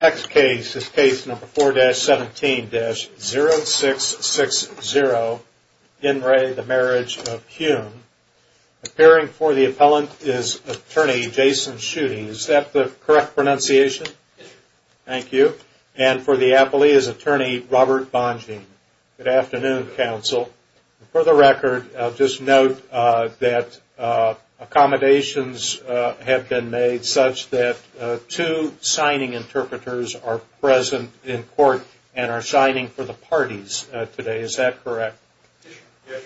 Next case is case number 4-17-0660. In re the Marriage of Kuhn. Appearing for the appellant is attorney Jason Schuting. Is that the correct pronunciation? Thank you. And for the appellee is attorney Robert Bonjean. Good afternoon, counsel. For the record, I'll just note that accommodations have been made such that two signing interpreters are present in court and are signing for the parties today. Is that correct? Yes, your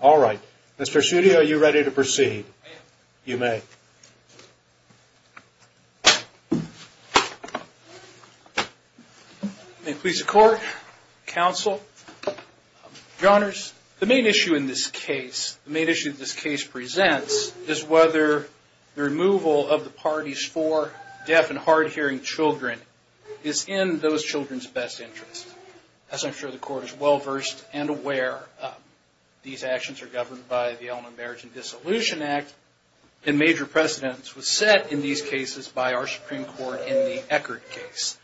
honor. All right. Mr. Schutte, are you ready to proceed? You may. May it please the court, counsel, your honors. The main issue in this case, the main issue that this case presents is whether the removal of the parties for deaf and hard-hearing children is in those children's best interest. As I'm sure the court is well-versed and aware, these actions are governed by the Elementary Marriage and Dissolution Act and major precedence was set in these cases by our Supreme Court in the Eckert case.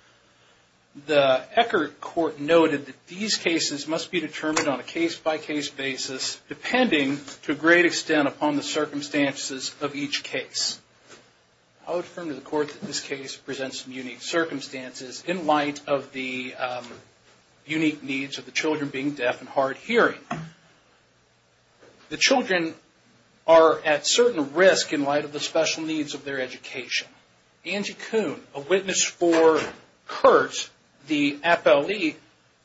The Eckert court noted that these cases must be determined on a case-by-case basis depending to a great extent upon the circumstances of each case. I would affirm to the court that this case presents some unique circumstances in light of the unique needs of the children being deaf and hard-hearing. The children are at certain risk in light of the special needs of their education. Angie Kuhn, a witness for CURT, the appellee,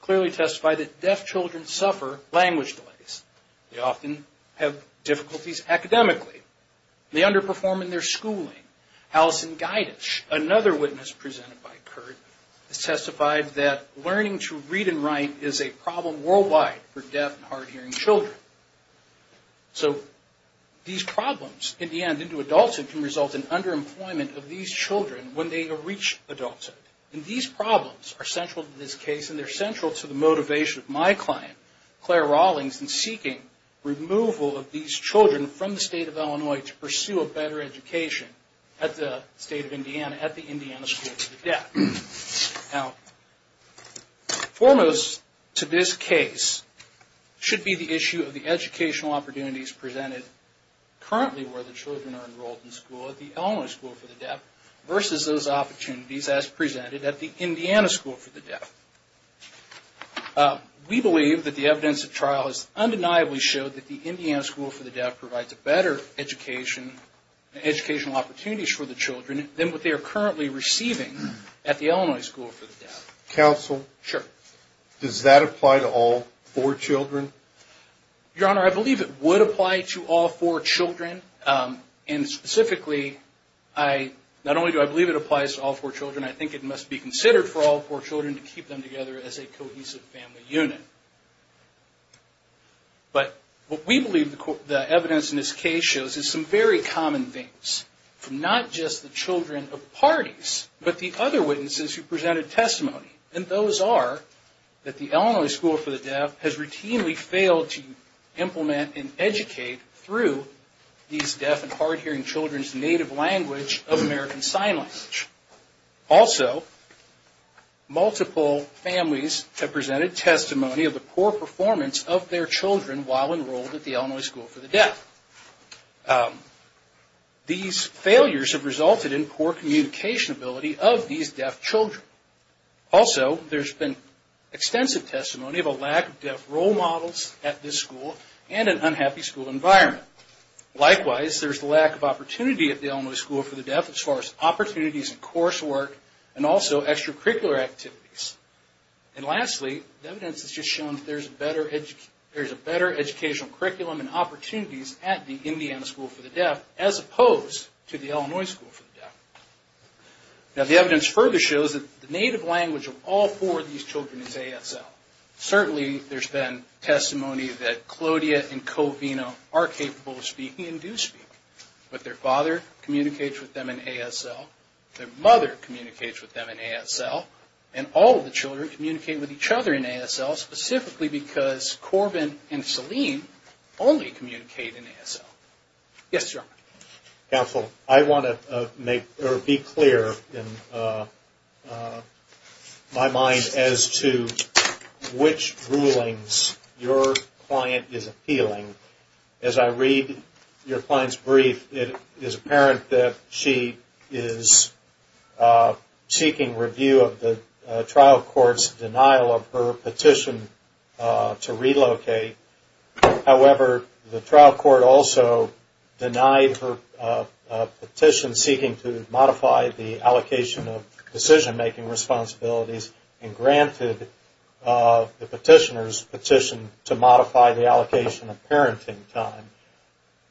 clearly testified that deaf children suffer language delays. They often have difficulties academically. They underperform in their schooling. Allison Giedich, another witness presented by CURT, testified that learning to read and write is a problem worldwide for deaf and hard-hearing children. These problems, in the end, into adulthood can result in underemployment of these children when they reach adulthood. These problems are central to this case and they're central to the motivation of my client, Claire Rawlings, in seeking removal of these children from the state of Illinois to pursue a better education at the state of Indiana, at the Indiana School for the Deaf. Now, foremost to this case should be the issue of the educational opportunities presented currently where the children are enrolled in school at the Illinois School for the Deaf versus those opportunities as presented at the Indiana School for the Deaf. We believe that the evidence at trial has undeniably showed that the Indiana School for the Deaf provides a better education, educational opportunities for the children than what they are currently receiving at the Illinois School for the Deaf. Counsel? Sure. Does that apply to all four children? Your Honor, I believe it would apply to all four children and specifically, not only do I believe it applies to all four children, I think it must be considered for all four children to keep them together as a cohesive family unit. But what we believe the evidence in this case shows is some very common things from not just the children of parties, but the other witnesses who presented testimony and those are that the Illinois School for the Deaf has routinely failed to implement and educate through these deaf and hard-hearing children's native language of American Sign Language. Also, multiple families have presented testimony of the poor performance of their children while enrolled at the Illinois School for the Deaf. These failures have resulted in poor communication ability of these deaf children. Also, there's been extensive testimony of a lack of deaf role models at this school and an unhappy school environment. Likewise, there's a lack of opportunity at the Illinois School for the Deaf as far as opportunities and coursework and also extracurricular activities. And lastly, the evidence has just shown there's a better educational curriculum and opportunities at the Indiana School for the Deaf as opposed to the Illinois School for the Deaf. Now the evidence further shows that the native language of all four of these children is ASL. Certainly there's been testimony that Claudia and Covino are capable of speaking and do speak, but their father communicates with them in ASL, their mother communicates with them in ASL, and all of the children communicate with each other in ASL specifically because Corbin and Selene only communicate in ASL. Yes, sir. Counsel, I want to make or be clear in my mind as to which rulings your client is appealing. As I read your client's brief, it is apparent that she is seeking review of the trial court's denial of her petition to relocate. However, the trial court also denied her petition seeking to modify the allocation of decision making responsibilities and granted the petitioner's petition to modify the allocation of parent and time.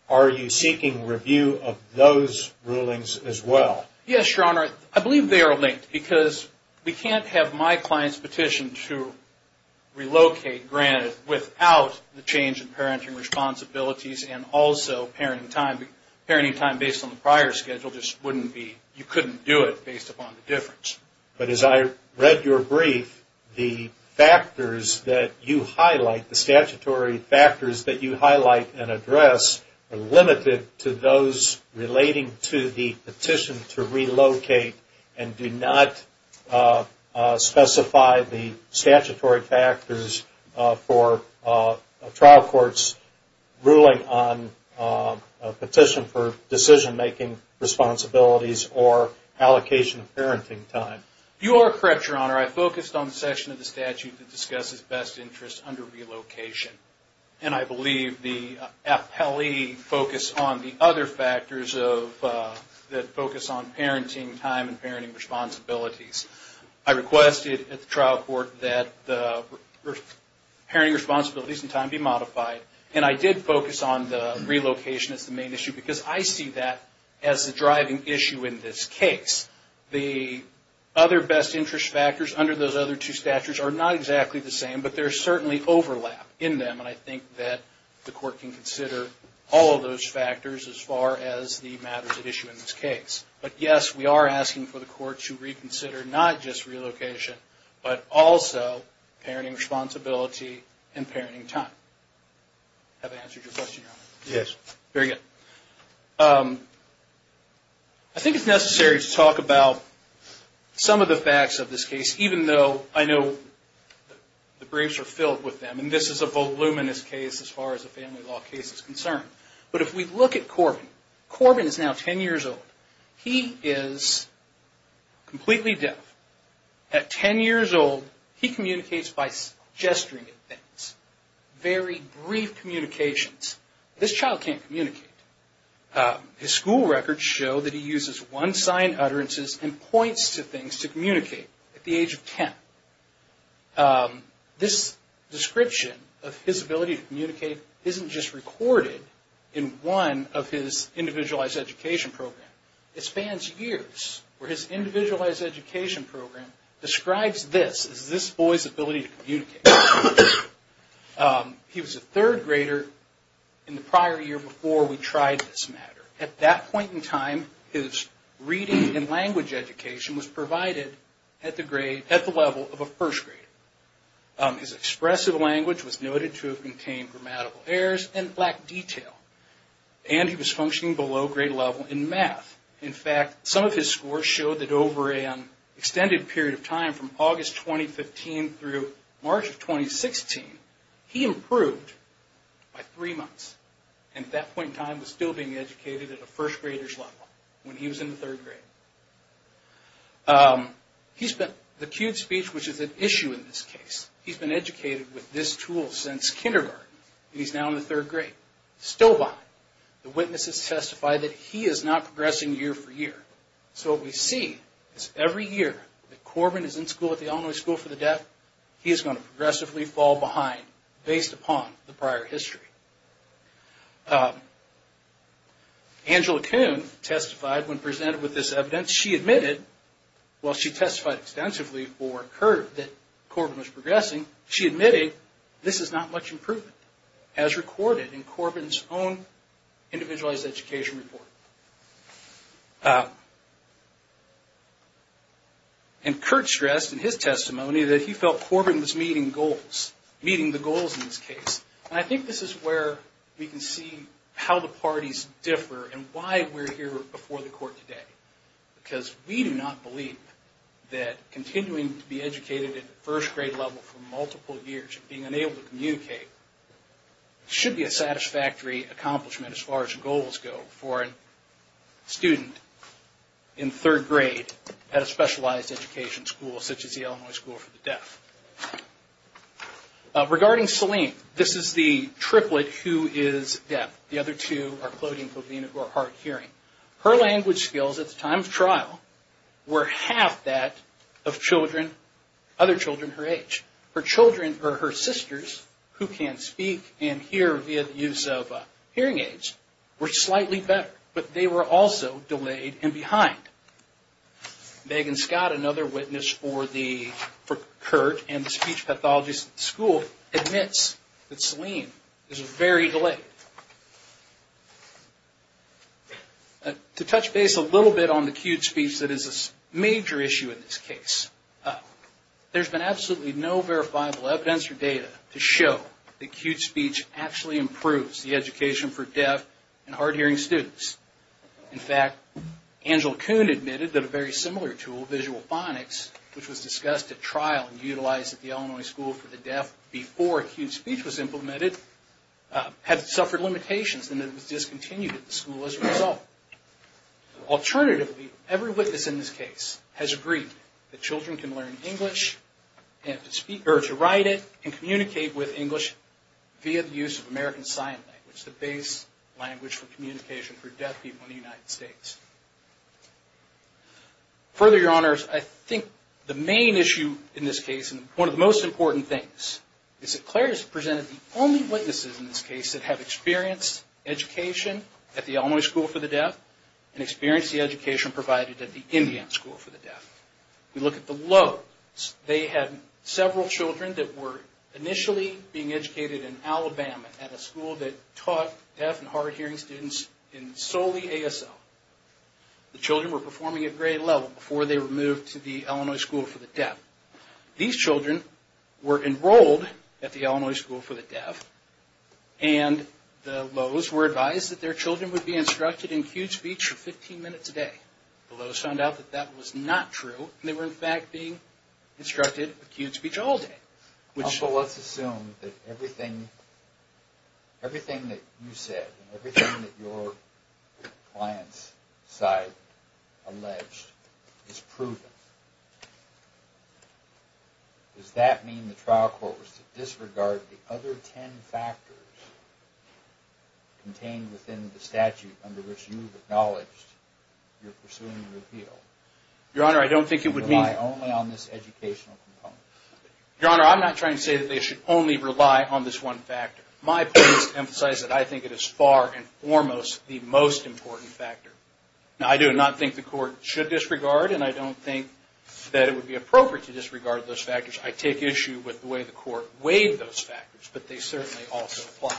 Are you seeking review of those rulings as well? Yes, your honor. I believe they are linked because we can't have my client's petition to relocate granted without the change in parenting responsibilities and also parenting time. Parenting time based on the prior schedule just wouldn't be, you couldn't do it based upon the difference. But as I read your brief, the factors that you highlight, the statutory factors that you highlight and address are limited to those relating to the petition to relocate and do not specify the statutory factors for a trial court's ruling on a petition for decision making responsibilities or allocation of parenting time. You are correct, your honor. I focused on the section of the statute that discusses best interest under relocation. And I believe the appellee focused on the other factors that focus on parenting time and parenting responsibilities. I requested at the trial court that the parenting responsibilities and time be modified. And I did focus on the relocation as the main issue because I see that as the driving issue in this case. The other best interest factors under those other two statutes are not exactly the same, but there's certainly overlap in them. And I think that the court can consider all of those factors as far as the matters at issue in this case. But yes, we are asking for the court to reconsider not just relocation, but also parenting responsibility and parenting time. I think it's necessary to talk about some of the facts of this case, even though I know the briefs are filled with them and this is a voluminous case as far as a family law case is concerned. But if we look at Corbin, Corbin is now 10 years old. He is completely deaf. At 10 years old, he communicates by gesturing at things. Very brief communications. This child can't communicate. His school records show that he uses one sign utterances and points to things to communicate at the age of 10. This description of his ability to communicate isn't just recorded in one of his individualized education programs. It spans years where his individualized education program describes this as this boy's ability to communicate. He was a third grader in the prior year before we tried this matter. At that point in time, his reading and language education was provided at the level of a first grader. His expressive language was noted to have contained grammatical errors and lacked detail. And he was functioning below grade level in math. In fact, some of his scores show that over an extended period of time from August 2015 through March of 2016, he improved by three months. And at that point in time, was still being educated at a first grader's level when he was in the third grade. He spent the cued speech, which is an issue in this case. He's been educated with this tool since kindergarten. He's now in the third grade. Still behind. The witnesses testify that he is not progressing year for year. So what we see is every year that Corbin is in school at the Illinois School for the Deaf, he is going to progressively fall behind based upon the prior history. Angela Kuhn testified when presented with this evidence. She admitted, while she testified extensively for Kurt that Corbin was progressing, she admitted this is not much improvement as recorded in Corbin's own individualized education report. And Kurt stressed in his testimony that he felt Corbin was meeting goals, meeting the goals in this case. And I think this is where we can see how the parties differ and why we're here before the court today. Because we do not believe that continuing to be educated at first grade level for multiple years and being unable to communicate should be a satisfactory accomplishment as far as goals go for a student in third grade at a specialized education school such as the Illinois School for the Deaf. Regarding Selene, this is the triplet who is deaf. The other two are cloding for being hard of hearing. Her language skills at the time of trial were half that of other children her age. Her sisters who can speak and hear via the use of hearing aids were slightly better, but they were also delayed and behind. Megan Scott, another witness for Kurt and the speech pathologist at the school admits that Selene is very delayed. To touch base a little bit on the acute speech that is a major issue in this case, there's been absolutely no verifiable evidence or data to show that acute speech actually improves the education for deaf and hard of hearing students. In fact, Angela Kuhn admitted that a very similar tool, Visual Phonics, which was discussed at trial and utilized at the Illinois School for the Deaf before acute speech was implemented, had suffered limitations and it was discontinued at the school as a result. Alternatively, every witness in this case has agreed that children can learn English and to write it and communicate with English via the use of American Sign Language, the base language for communication for deaf people in the United States. Further Your Honors, I think the main issue in this case and one of the most important things is that Claire has presented the only witnesses in this case that have experienced education at the Illinois School for the Deaf and experienced the education provided at the Indian School for the Deaf. We look at the low. They had several children that were initially being educated in Alabama at a school that taught deaf and hard of hearing students in solely ASL. The children were performing at grade level before they were moved to the school. They were enrolled at the Illinois School for the Deaf and the Lowe's were advised that their children would be instructed in acute speech for 15 minutes a day. The Lowe's found out that that was not true and they were in fact being instructed acute speech all day. Let's assume that everything that you said and everything that your client's side alleged is proven. Does that mean the trial court was to disregard the other ten factors contained within the statute under which you've acknowledged you're pursuing a repeal? Your Honor, I don't think it would mean... Your Honor, I'm not trying to say that they should only rely on this one factor. My point is to emphasize that I think it is far and foremost the most important factor. Now, I do not think the court should disregard and I don't think that it would be appropriate to disregard those factors. I take issue with the way the court weighed those factors, but they certainly also apply.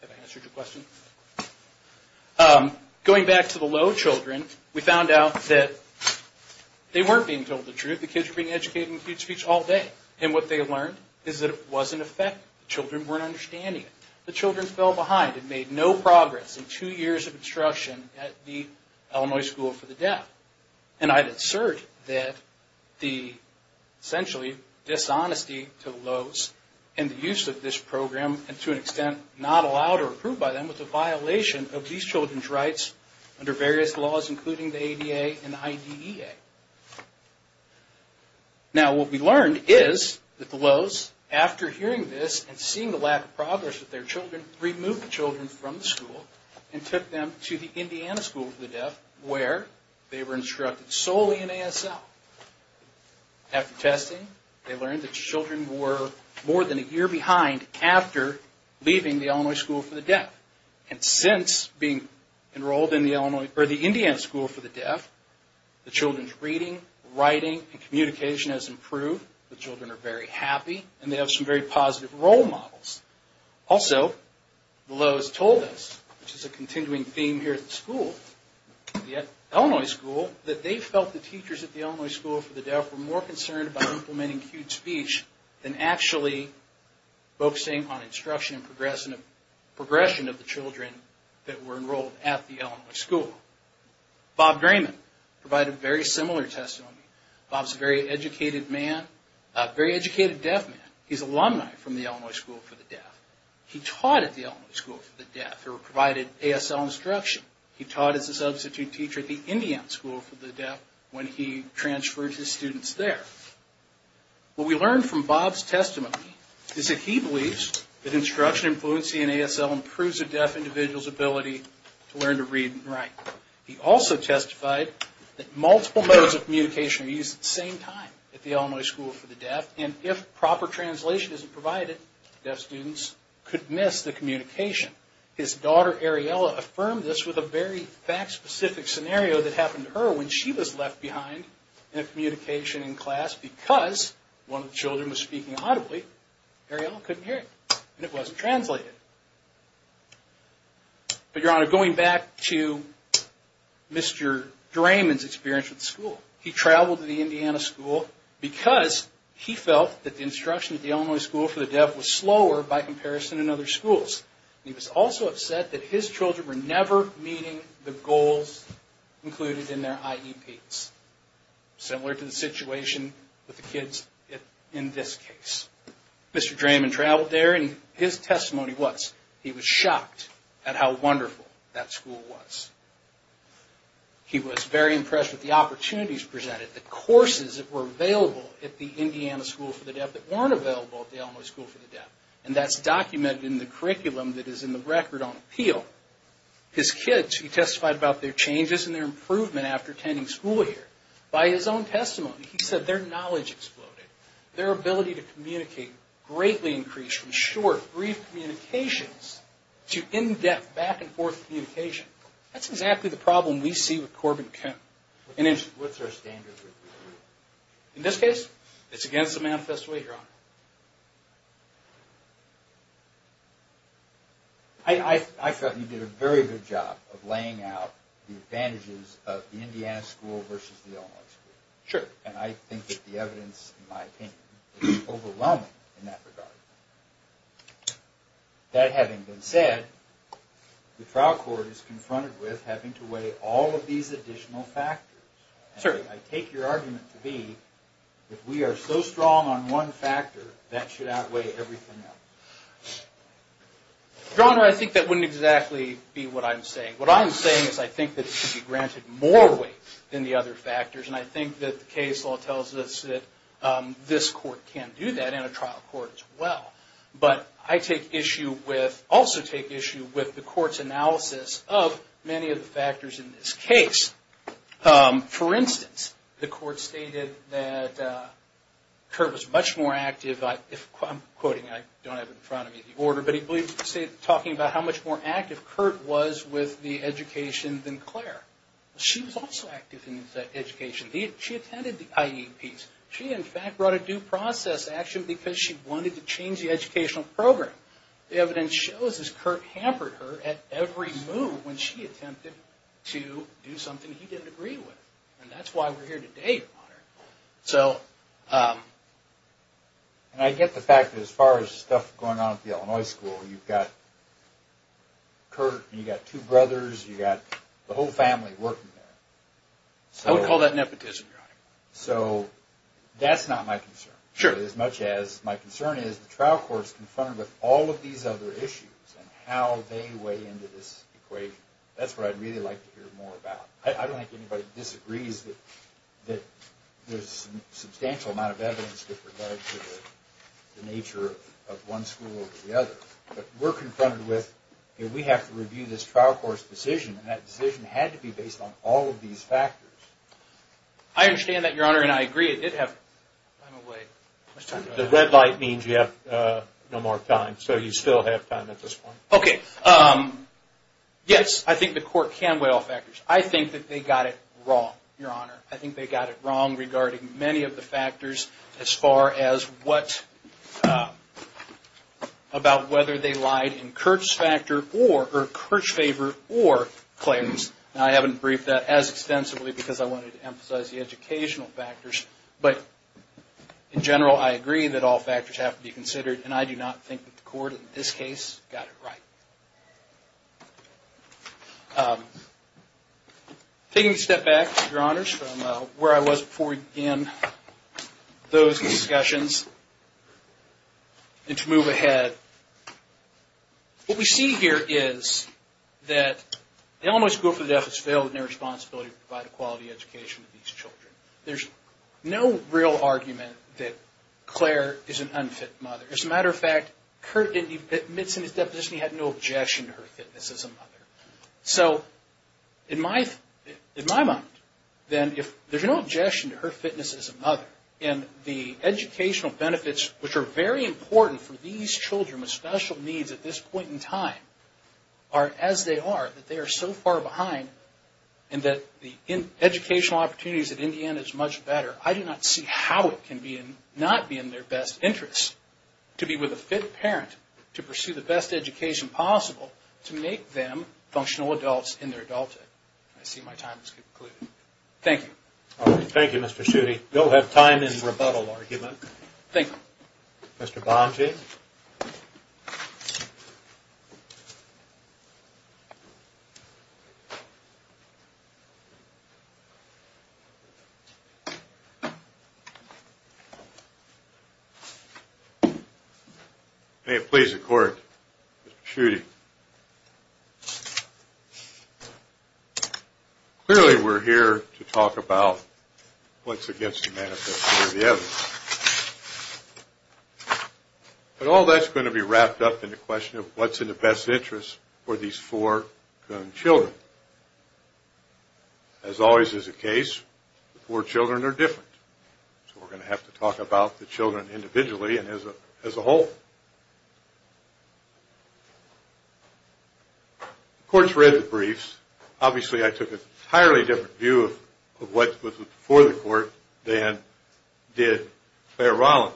Have I answered your question? Going back to the Lowe's children, we found out that they weren't being told the truth. The kids were being educated in acute speech all day and what they learned is that it wasn't effective. The children weren't understanding it. The children fell behind and made no progress in two years of instruction at the Illinois School for the Deaf. And I'd assert that the dishonesty to Lowe's and the use of this program, and to an extent not allowed or approved by them, was a violation of these children's rights under various laws including the ADA and IDEA. Now, what we learned is that the Lowe's, after hearing this and seeing the lack of progress with their children, removed the children from the school and took them to the Indiana School for the Deaf where they were instructed solely in ASL. After testing, they learned that the children were more than a year behind after leaving the Illinois School for the Deaf. And since being enrolled in the Indiana School for the Deaf, the children's reading, writing and communication has improved. The children are very happy and they have some very positive role models. Also, Lowe's told us, which is a continuing theme here at the school, at the Illinois School, that they felt the teachers at the Illinois School for the Deaf were more concerned about implementing acute speech than actually focusing on instruction and progression of the children that were enrolled at the Illinois School. Bob Drayman provided very similar testimony. Bob's a very educated man, a very educated deaf man. He's an alumni from the Illinois School for the Deaf. He taught at the Illinois School for the Deaf. They were provided ASL instruction. He taught as a substitute teacher at the Indiana School for the Deaf when he transferred his students there. What we learned from Bob's testimony is that he believes that instruction and fluency in ASL improves a deaf individual's ability to learn to read and write. He also testified that multiple modes of communication are used at the same time at the Illinois School for the Deaf. If proper translation isn't provided, deaf students could miss the communication. His daughter, Ariella, affirmed this with a very fact-specific scenario that happened to her when she was left behind in a communication in class because one of the children was speaking audibly. Ariella couldn't hear it and it wasn't translated. Going back to Mr. Drayman's experience at the school, he traveled to the Indiana School because he felt that the instruction at the Illinois School for the Deaf was slower by comparison than other schools. He was also upset that his children were never meeting the goals included in their IEPs, similar to the situation with the kids in this case. Mr. Drayman traveled there and his testimony was he was shocked at how wonderful that school was. He was very impressed with the opportunities presented, the courses that were available at the Indiana School for the Deaf that weren't available at the Illinois School for the Deaf. And that's documented in the curriculum that is in the Record on Appeal. His kids, he testified about their changes and their improvement after attending school here. By his own testimony, he said their knowledge exploded. Their ability to communicate greatly increased from short, brief communications to in-depth, back-and-forth communication. That's exactly the problem we see with Corbin Kemp. What's our standard? In this case, it's against the manifest way, Your Honor. I felt you did a very good job of laying out the advantages of the Indiana School versus the Illinois School. Sure. And I think that the evidence, in my opinion, is overwhelming in that regard. That having been said, the trial court is confronted with having to weigh all of these additional factors. Sir. I take your argument to be that we are so strong on one factor, that should outweigh everything else. Your Honor, I think that wouldn't exactly be what I'm saying. What I'm saying is I think that it should be granted more weight than the other factors. And I think that the case law tells us that this court can do that in a trial court as well. But I also take issue with the court's analysis of many of the factors in this case. For instance, the court stated that Kurt was much more active. I'm quoting. I don't have in front of me the order. But he believes, talking about how much more active Kurt was with the education than Claire. She was also active in education. She attended the IEPs. She, in fact, brought a due process action because she wanted to change the educational program. The evidence shows that Kurt hampered her at every move when she attempted to do something he didn't agree with. And that's why we're here today, Your Honor. And I get the fact that as far as stuff going on at the Illinois School, you've got Kurt and you've got two brothers. You've got the whole family working there. I would call that nepotism, Your Honor. So that's not my concern. Sure. As much as my concern is the trial court's confronted with all of these other issues and how they weigh into this equation. That's what I'd really like to hear more about. I don't think anybody disagrees that there's a substantial amount of evidence that relates to the nature of one school over the other. But we're confronted with, we have to review this trial court's decision and that decision had to be based on all of these factors. I understand that, Your Honor, and I agree. It did have... The red light means you have no more time. So you still have time at this point. Okay. Yes, I think the court can weigh all factors. I think that they got it wrong, Your Honor. I think they got it wrong regarding many of the factors as far as what... about whether they lied in Kurt's favor or claims. I haven't briefed that as extensively because I wanted to emphasize the educational factors. But in general, I agree that all factors have to be considered and I do not think that the court, in this case, got it right. Taking a step back, Your Honors, from where I was before we began those discussions, and to move ahead. What we see here is that the Illinois School for the Deaf has failed in their responsibility to provide a quality education to these children. There's no real argument that Claire is an unfit mother. As a matter of fact, Kurt admits in his deposition he had no objection to her fitness as a mother. So, in my mind, then, if there's no objection to her fitness as a mother, and the educational benefits, which are very important for these children with special needs at this point in time, are as they are, that they are so far behind, and that the educational opportunities at Indiana is much better, I do not see how it can not be in their best interest to be with a fit parent to pursue the best education possible to make them functional adults in their adulthood. I see my time has concluded. Thank you. Thank you, Mr. Schutte. You'll have time in rebuttal argument. May it please the court, Mr. Schutte. Clearly, we're here to talk about what's against the manifesto of the evidence. But all that's going to be wrapped up in the question of what's in the best interest for these four young children. As always is the case, the four children are different. So we're going to have to talk about the children individually and as a whole. The court's read the briefs. Obviously, I took an entirely different view of what was before the court than did Clare Rollins.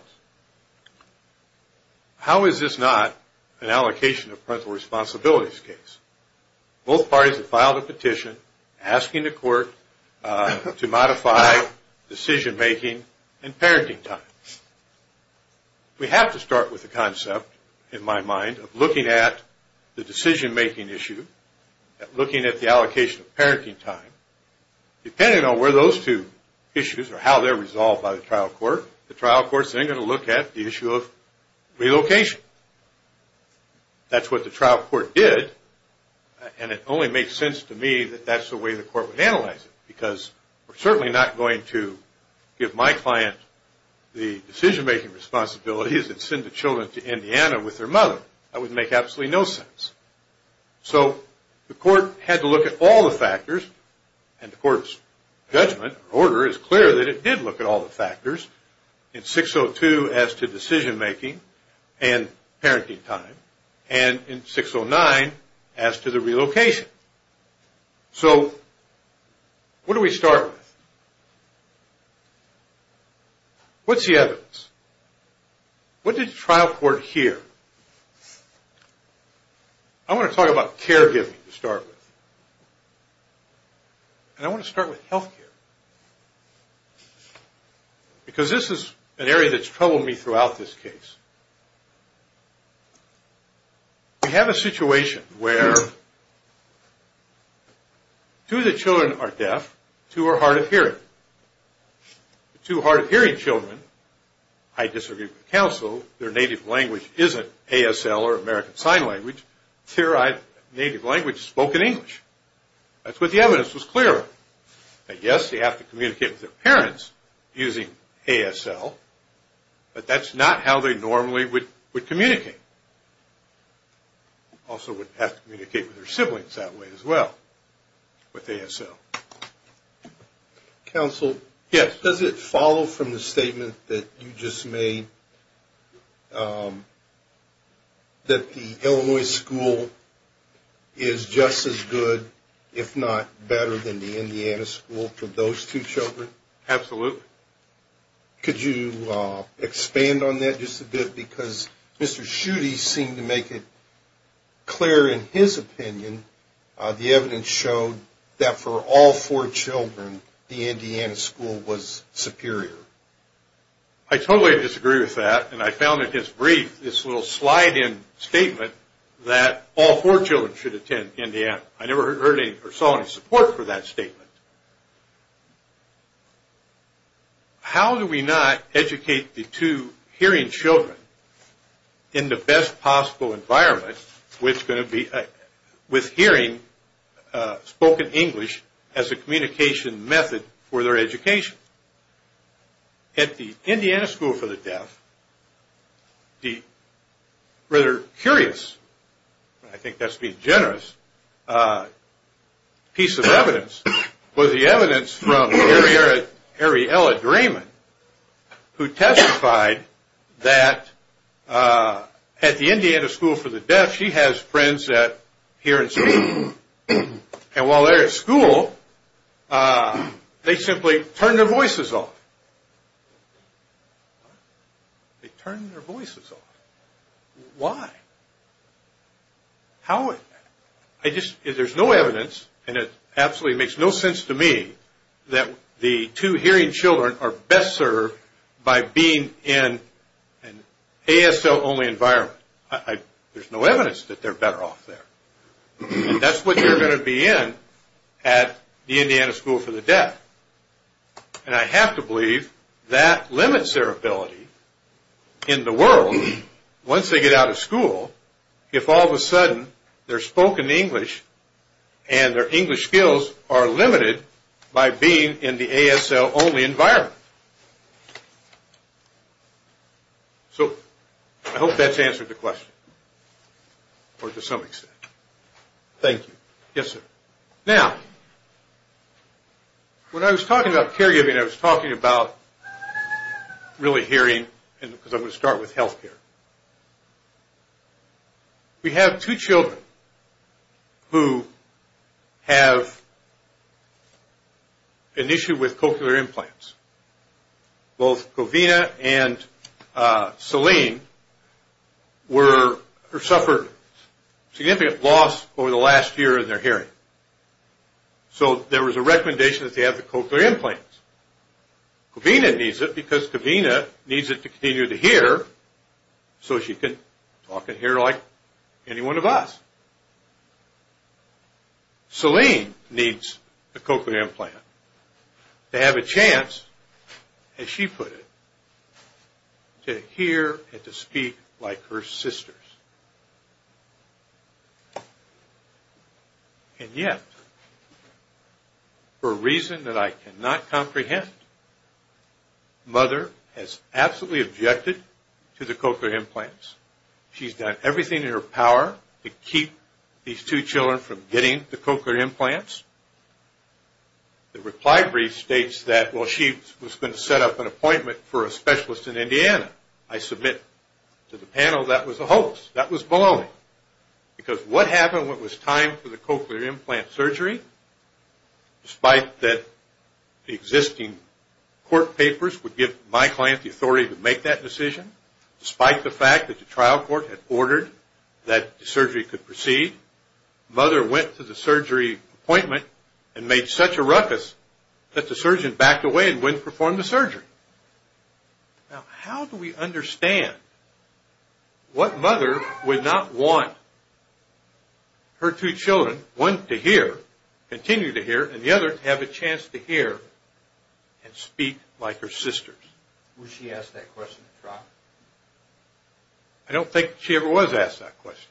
How is this not an allocation of parental responsibilities case? Both parties have filed a petition asking the court to modify decision-making and parenting time. We have to start with the concept, in my mind, of looking at the decision-making issue, looking at the allocation of parenting time. Depending on where those two issues are, how they're resolved by the trial court, the trial court's then going to look at the issue of relocation. That's what the trial court did, and it only makes sense to me that that's the way the court would analyze it, because we're certainly not going to give my client the decision-making responsibilities and send the children to Indiana with their mother. That would make absolutely no sense. So the court had to look at all the factors, and the court's judgment or order is clear that it did look at all the factors in 602 as to decision-making and parenting time, and in 609 as to the relocation. What do we start with? What's the evidence? What did the trial court hear? I want to talk about caregiving to start with. And I want to start with health care, because this is an area that's troubled me throughout this case. We have a situation where two of the children are deaf, two are hard of hearing. The two hard-of-hearing children, I disagree with counsel, their native language isn't ASL or American Sign Language. Their native language is spoken English. That's what the evidence was clear of. Yes, they have to communicate with their parents using ASL, but that's not how they normally would communicate. Also would have to communicate with their siblings that way as well with ASL. Counsel, does it follow from the statement that you just made that the Illinois school is just as good, if not better than the Indiana school for those two children? Absolutely. Could you expand on that just a bit? Because Mr. Schutte seemed to make it clear in his opinion, the evidence showed that for all four children, the Indiana school was superior. I totally disagree with that, and I found in his brief this little slide-in statement that all four children should attend Indiana. I never saw any support for that statement. How do we not educate the two hearing children in the best possible environment with hearing spoken English as a communication method for their education? At the Indiana school for the deaf, the rather curious, I think that's being generous, piece of evidence was the evidence from Ariella Drayman who testified that at the Indiana school for the deaf, she has friends that hear and speak, and while they're at school, they simply turn their voices off. They turn their voices off. Why? There's no evidence, and it absolutely makes no sense to me, that the two hearing children are best served by being in an ASL only environment. There's no evidence that they're better off there. That's what you're going to be in at the Indiana school for the deaf, and I have to believe that limits their ability in the world, once they get out of school, if all of a sudden their spoken English and their English skills are limited by being in the ASL only environment. So, I hope that's answered the question, or to some extent. Thank you. Yes, sir. Now, when I was talking about caregiving, I was talking about really hearing, because I'm going to start with health care. We have two children who have an issue with cochlear implants. Both Covina and Celine suffered significant loss over the last year in their hearing. So, there was a recommendation that they have the cochlear implants. Covina needs it because Covina needs it to continue to hear so she can talk and hear like any one of us. Celine needs the cochlear implant to have a chance, as she put it, to hear and to speak like her sisters. And yet, for a reason that I cannot comprehend, mother has absolutely objected to the cochlear implants. She's done everything in her power to keep these two children from getting the cochlear implants. The reply brief states that, well, she was going to set up an appointment for a specialist in Indiana. I submit to the panel that was a hoax. That was baloney, because what happened when it was time for the cochlear implant surgery, despite that the existing court papers would give my client the authority to make that decision, despite the fact that the trial court had ordered that the surgery could proceed, mother went to the surgery appointment and made such a ruckus that the surgeon backed away and wouldn't perform the surgery. Now, how do we understand what mother would not want her two children, one to hear, continue to hear, and the other to have a chance to hear and speak like her sisters? Was she asked that question at trial? I don't think she ever was asked that question.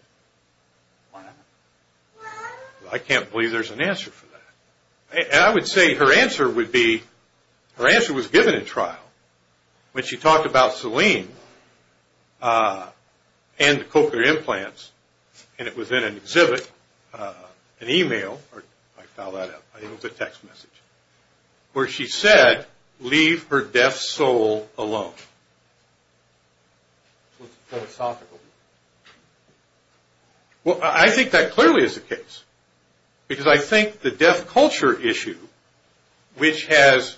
I can't believe there's an answer for that. I would say her answer would be, her answer was given at trial when she talked about Selene and the cochlear implants and it was in an exhibit, an email, I found that out, I think it was a text message, where she said, leave her deaf soul alone. Well, I think that clearly is the case, because I think the deaf culture issue, which has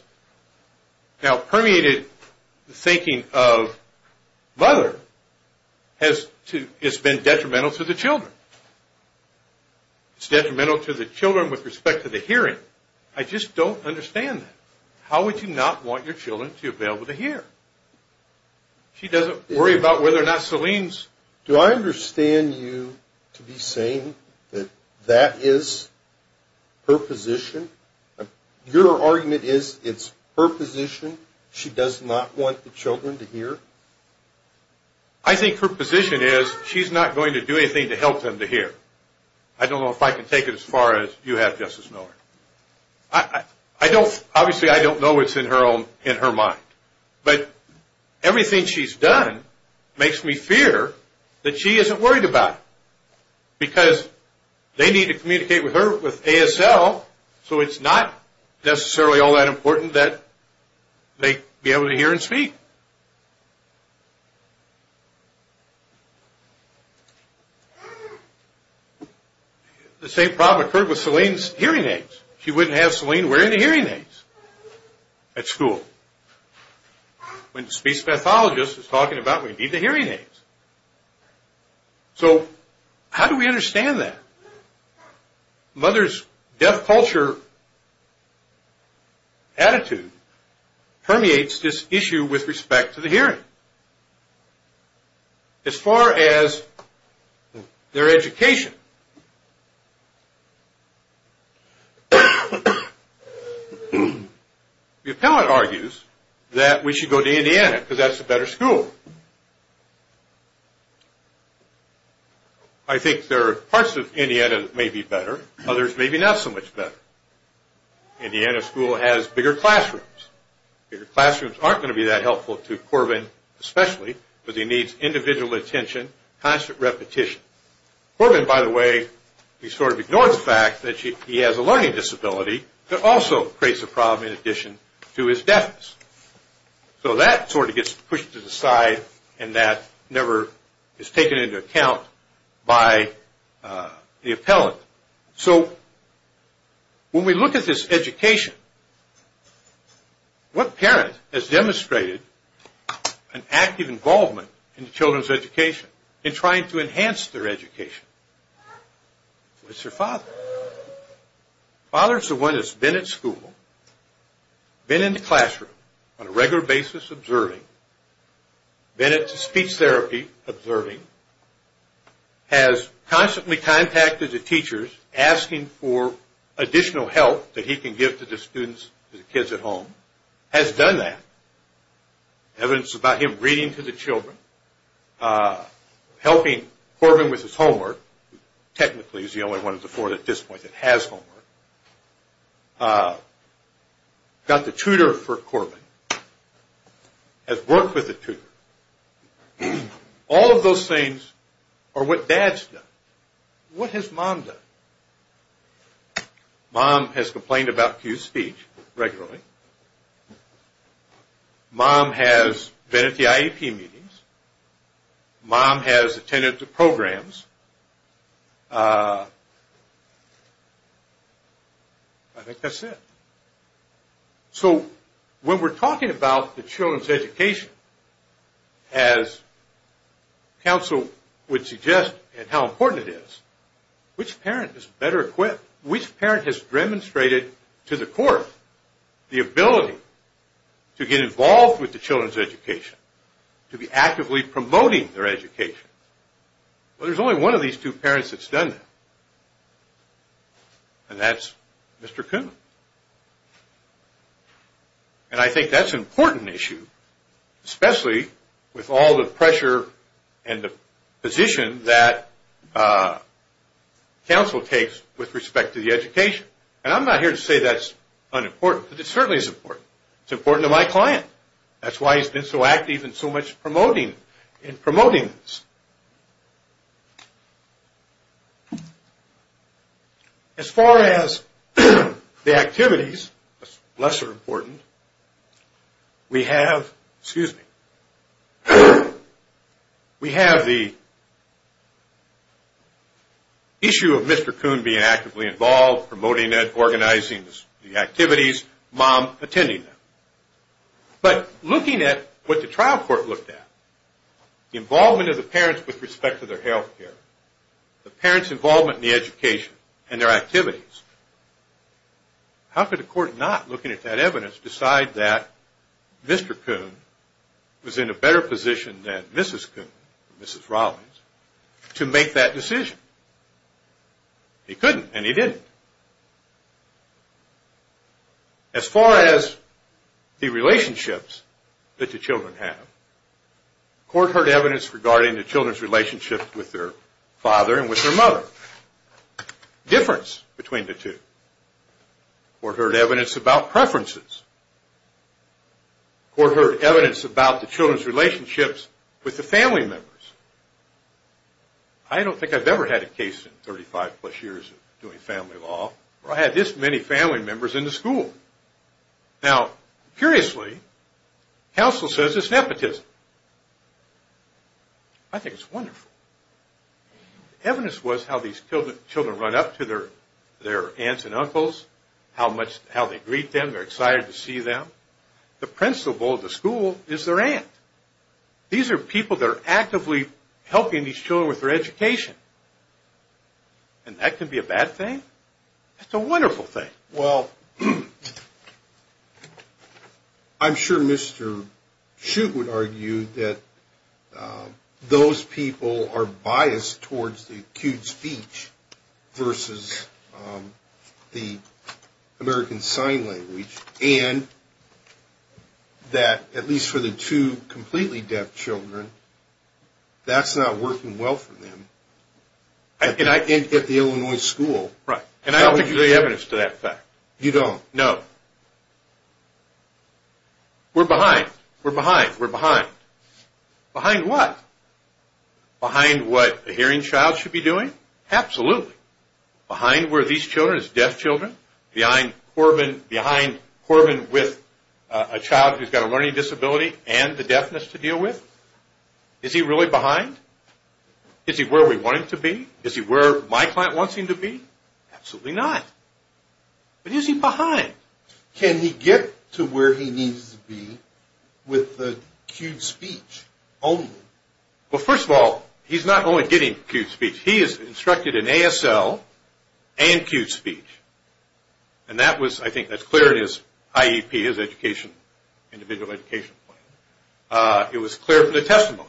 now permeated the thinking of mother, has been detrimental to the children. It's detrimental to the children with respect to the hearing. I just don't understand that. How would you not want your children to be able to hear? She doesn't worry about whether or not Selene's... Do I understand you to be saying that that is her position? Your argument is, it's her position, she does not want the children to hear? I think her position is, she's not going to do anything to help them to hear. I don't know if I can take it as far as you have, Justice Miller. Obviously, I don't know what's in her mind, but everything she's done makes me fear that she isn't worried about it, because they need to communicate with her with ASL, so it's not necessarily all that important that they be able to hear and speak. The same problem occurred with Selene's hearing aids. She wouldn't have Selene wearing the hearing aids at school. When the speech pathologist was talking about, we need the hearing aids. So, how do we understand that? Mother's deaf culture attitude permeates this issue with respect to the hearing. As far as their education, the appellate argues that we should go to Indiana, because that's a better school. I think there are parts of Indiana that may be better, others may be not so much better. Indiana school has bigger classrooms. Bigger classrooms aren't going to be that helpful to Corbin, especially, because he needs individual attention, constant repetition. Corbin, by the way, he sort of ignores the fact that he has a learning disability that also creates a problem in addition to his deafness. That sort of gets pushed to the side, and that never is taken into account by the appellate. So, when we look at this education, what parent has demonstrated an active involvement in children's education in trying to enhance their education? It's their father. Father's the one that's been at school, been in the classroom on a regular basis observing, been at the speech therapy observing, has constantly contacted the teachers asking for additional help that he can give to the students, to the kids at home, has done that. Evidence about him reading to the children, helping Corbin with his homework, technically he's the only one of the four at this point that has homework, got the tutor for Corbin, has worked with the tutor. All of those things are what dad's done. What has mom done? Mom has complained about Cue's speech regularly. Mom has been at the IEP meetings. Mom has attended the programs. I think that's it. So, when we're talking about the children's education, as counsel would suggest and how important it is, which parent is better equipped? Which parent has demonstrated to the court the ability to get involved with the children's education, to be actively promoting their education? Well, there's only one of these two parents that's done that. And that's Mr. Kuhn. And I think that's an important issue, especially with all the pressure and the position that counsel takes with respect to the education. And I'm not here to say that's unimportant, but it certainly is important. It's important to my client. That's why he's been so active in promoting this. As far as the activities, that's lesser important. We have the issue of Mr. Kuhn being actively involved, promoting it, organizing the activities, mom attending them. But looking at what the trial court looked at, the involvement of the parents with respect to their health care, the parents' involvement in the education and their activities, how could a court not, looking at that evidence, decide that Mr. Rawlings, to make that decision? He couldn't, and he didn't. As far as the relationships that the children have, court heard evidence regarding the children's relationship with their father and with their mother. Difference between the two. Court heard evidence about preferences. Court heard evidence about the children's relationships with the family members. I don't think I've ever had a case in 35 plus years of doing family law where I had this many family members in the school. Now, curiously, counsel says it's nepotism. I think it's wonderful. Evidence was how these children run up to their aunts and uncles, how they greet them, they're excited to see them. The principal of the school is their aunt. These are people that are actively helping these children with their education. And that can be a bad thing? That's a wonderful thing. I'm sure Mr. Shug would argue that those people are biased towards the acute speech versus the American Sign Language, and that, at least for the two completely deaf children, that's not working well for them at the Illinois school. I don't think there's any evidence to that fact. You don't? No. We're behind. We're behind. We're behind. Behind what? Behind what a hearing child should be doing? Absolutely. Behind where these children, deaf children, behind Corbin with a child who's got a learning disability and the deafness to deal with? Is he really behind? Is he where we want him to be? Is he where my client wants him to be? Absolutely not. But is he behind? Can he get to where he needs to be with the acute speech only? Well, first of all, he's not only getting acute speech. He is instructed in ASL and acute speech. And that was, I think that's clear in his IEP, his individual education plan. It was clear from the testimony.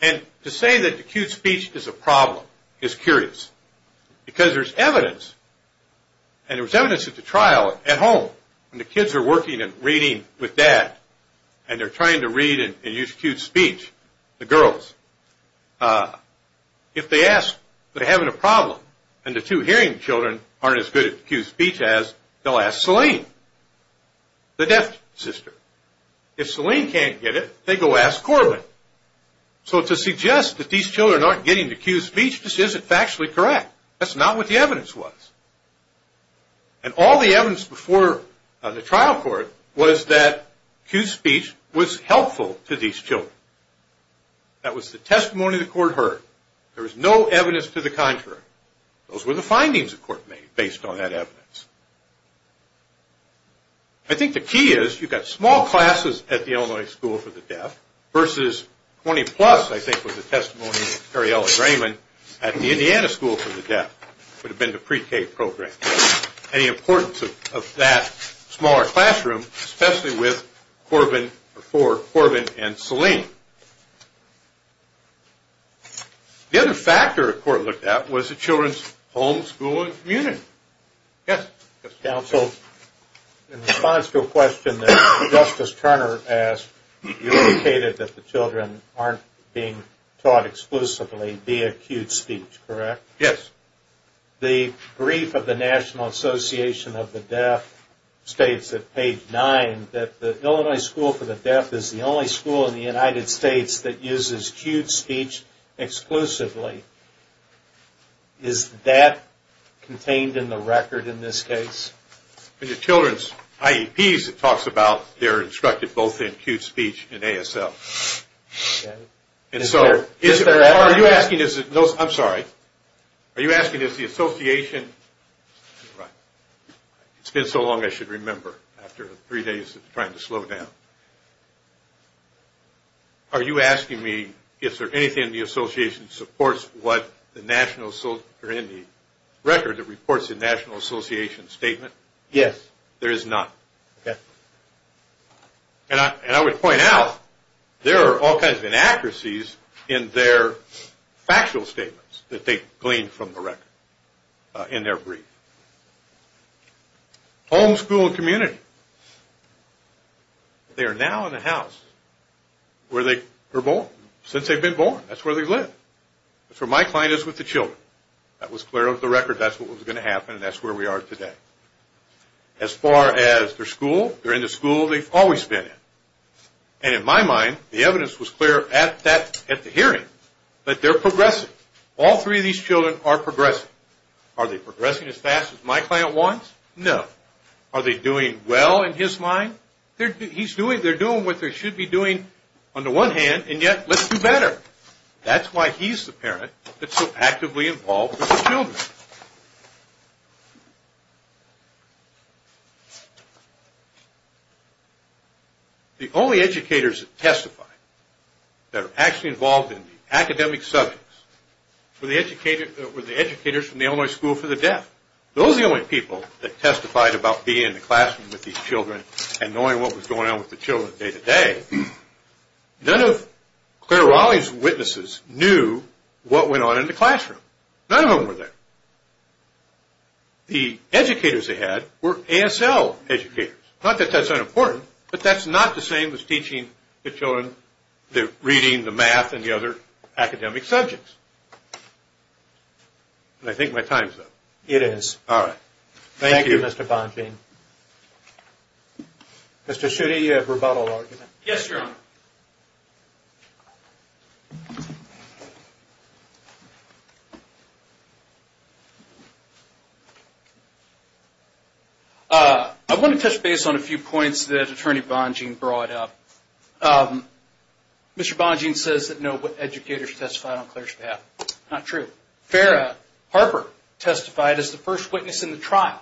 And to say that acute speech is a problem is curious because there's evidence, and there's evidence at the trial at home when the kids are working and reading with dad and they're trying to read and use acute speech, the girls, if they ask, they're having a problem and the two hearing children aren't as good at acute speech as, they'll ask Selene, the deaf sister. If Selene can't get it, they go ask Corbin. So to suggest that these children aren't getting acute speech just isn't factually correct. That's not what the evidence was. And all the evidence before the trial court was that acute speech was helpful to these children. That was the testimony the court heard. There was no evidence to the contrary. Those were the findings the court made based on that evidence. I think the key is you've got small classes at the Illinois School for the Deaf versus 20 plus I think was the testimony of Terriella Raymond at the Indiana School for the Deaf. It would have been the pre-K program. Any importance of that smaller classroom, especially with Corbin and Selene. The other factor the court looked at was the children's home, school, and community. Counsel, in response to a question that Justice Turner asked, you indicated that the children aren't being taught exclusively the acute speech, correct? Yes. The brief of the National Association of the Deaf states at page 9 that the Illinois School for the Deaf is the only school in the United States that uses acute speech exclusively. Is that contained in the record in this case? In the children's IEPs it talks about they're instructed both in acute speech and ASL. I'm sorry. Are you asking if the association, it's been so long I should remember after three days of trying to slow down. Are you asking me if there's anything in the association that supports what the National Association or in the record that reports the National Association statement? Yes. There is none. And I would point out there are all kinds of inaccuracies in their factual statements that they gleaned from the record in their brief. Home, school, and community. They are now in a house where they were born, since they've been born. That's where they live. That's where my client is with the children. That was clear of the record. That's what was going to happen and that's where we are today. As far as their school, they're in the school they've always been in. And in my mind the evidence was clear at the hearing that they're progressing. All three of these children are progressing. Are they progressing as fast as my client wants? No. Are they doing well in his mind? They're doing what they should be doing on the one hand and yet let's do better. That's why he's the parent that's so actively involved with the children. The only educators that testified that are actually involved in the academic subjects were the educators from the Illinois School for the Deaf. Those are the only people that testified about being in the classroom with these children and knowing what was going on with the children day to day. None of Claire Raleigh's witnesses knew what went on in the classroom. None of them were there. The educators they had were ASL educators. Not that that's unimportant, but that's not the same as teaching the children the reading, the math, and the other academic subjects. I think my time's up. Thank you Mr. Bongean. Mr. Schutte, you have a rebuttal argument. Yes, Your Honor. I want to touch base on a few points that Attorney Bongean brought up. Mr. Bongean says that no educators testified on Claire's behalf. Not true. Farrah Harper testified as the first witness in the trial.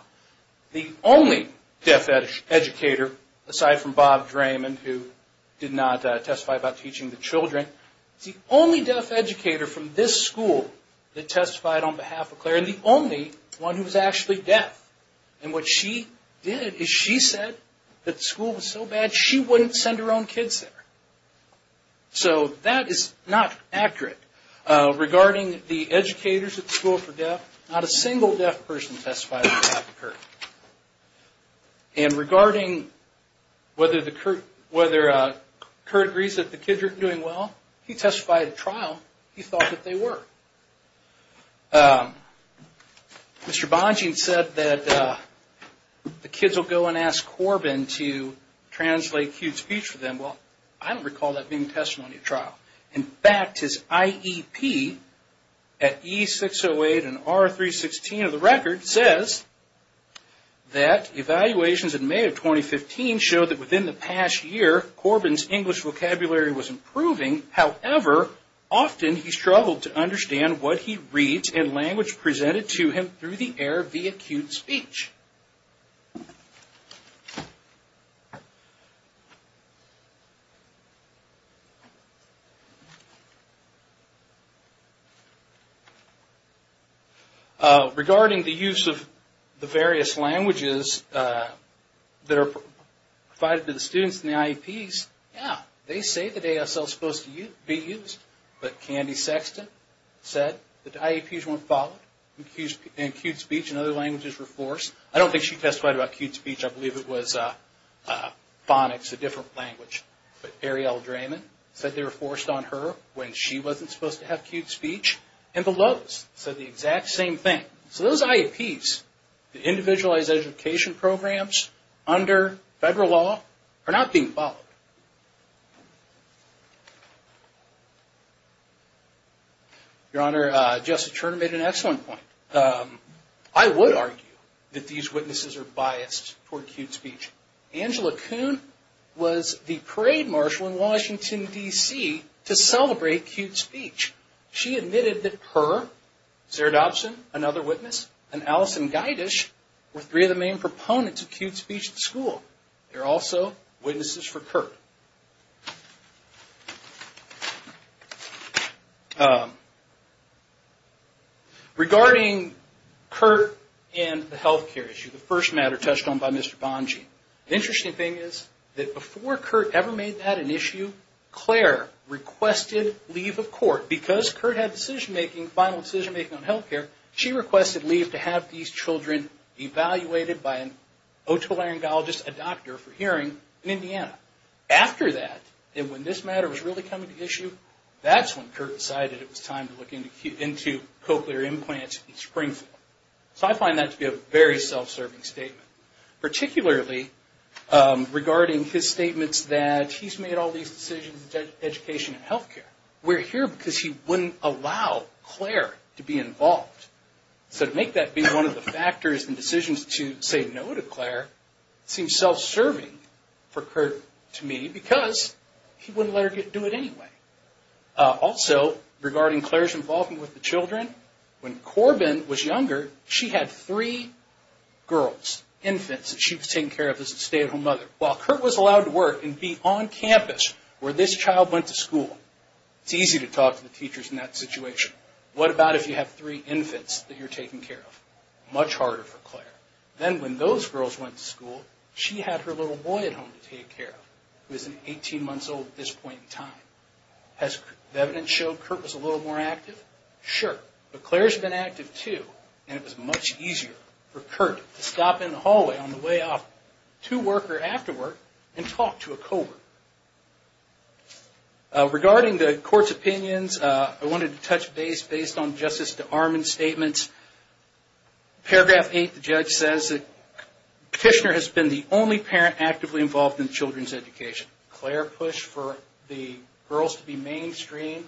The only deaf educator, aside from Bob Draymond, who did not testify about teaching the children, is the only deaf educator from this school that testified on behalf of Claire. The only one who was actually deaf. What she did is she said that the school was so bad she wouldn't send her own kids there. So that is not accurate. Regarding the educators at the School for Deaf, not a single deaf person testified on behalf of Kurt. And regarding whether Kurt agrees that the kids are doing well, he testified at trial. He thought that they were. Mr. Bongean said that the kids will go and call that being testimony at trial. In fact, his IEP at E-608 and R-316 of the record says that evaluations in May of 2015 showed that within the past year, Corbin's English vocabulary was improving. However, often he struggled to understand what he reads in language presented to him through the air via acute speech. Regarding the use of the various languages that are provided to the students in the IEPs, yeah, they say that ASL is supposed to be used, but Candy Sexton said that the IEPs weren't followed and acute speech and other languages were forced. I don't think she testified about acute speech. I believe it was phonics, a different language. But Arielle Drayman said they were forced on her when she wasn't supposed to have acute speech. And the Lowe's said the exact same thing. So those IEPs, the individualized education programs under federal law are not being followed. Your Honor, Justice Turner made an excellent point. I would argue that these witnesses are biased toward acute speech. Angela Kuhn was the parade marshal in Washington, D.C. to celebrate acute speech. She admitted that her, Sarah Dobson, another witness, and Allison Gydish were three of the main proponents of acute speech in Washington, D.C. Regarding Curt and the health care issue, the first matter touched on by Mr. Bonge. The interesting thing is that before Curt ever made that an issue, Claire requested leave of court because Curt had final decision making on health care. She requested leave to have these children evaluated by an otolaryngologist, a doctor, for hearing in Indiana. After that, when this matter was really coming to issue, that's when Curt decided it was time to look into cochlear implants in spring form. So I find that to be a very self-serving statement. Particularly regarding his statements that he's made all these decisions in education and health care. We're here because he wouldn't allow Claire to be involved. So to make that be one of the factors in decisions to say no to Claire seems self-serving for Curt to me because he wouldn't let her do it anyway. Also, regarding Claire's involvement with the children, when Corbin was younger, she had three girls, infants, that she was taking care of as a stay-at-home mother. While Curt was allowed to work and be on campus where this child went to school, it's easy to talk to the teachers in that situation. What about if you have three infants that you're taking care of? Much harder for Claire. Then when those girls went to school, she had her little boy at home to take care of, who is 18 months old at this point in time. Does the evidence show Curt was a little more active? Sure, but Claire's been active too and it was much easier for Curt to stop in the hallway on the way up to work or after work and talk to a co-worker. Regarding the court's opinions, I wanted to touch base based on Justice DeArmond's statements. Paragraph 8, the judge says that Kishner has been the only parent actively involved in children's education. Claire pushed for the girls to be mainstreamed,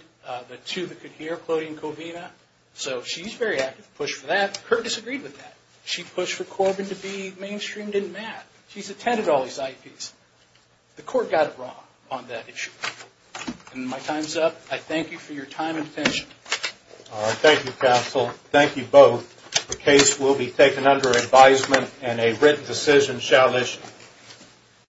the two that could hear, so she's very active, pushed for that. Curt disagreed with that. She pushed for Corbin to be mainstreamed in math. She's attended all these IEPs. The court got it wrong on that issue. My time's up. I thank you for your time and attention. Thank you, counsel. Thank you both. The case will be taken under advisement and a written decision shall issue.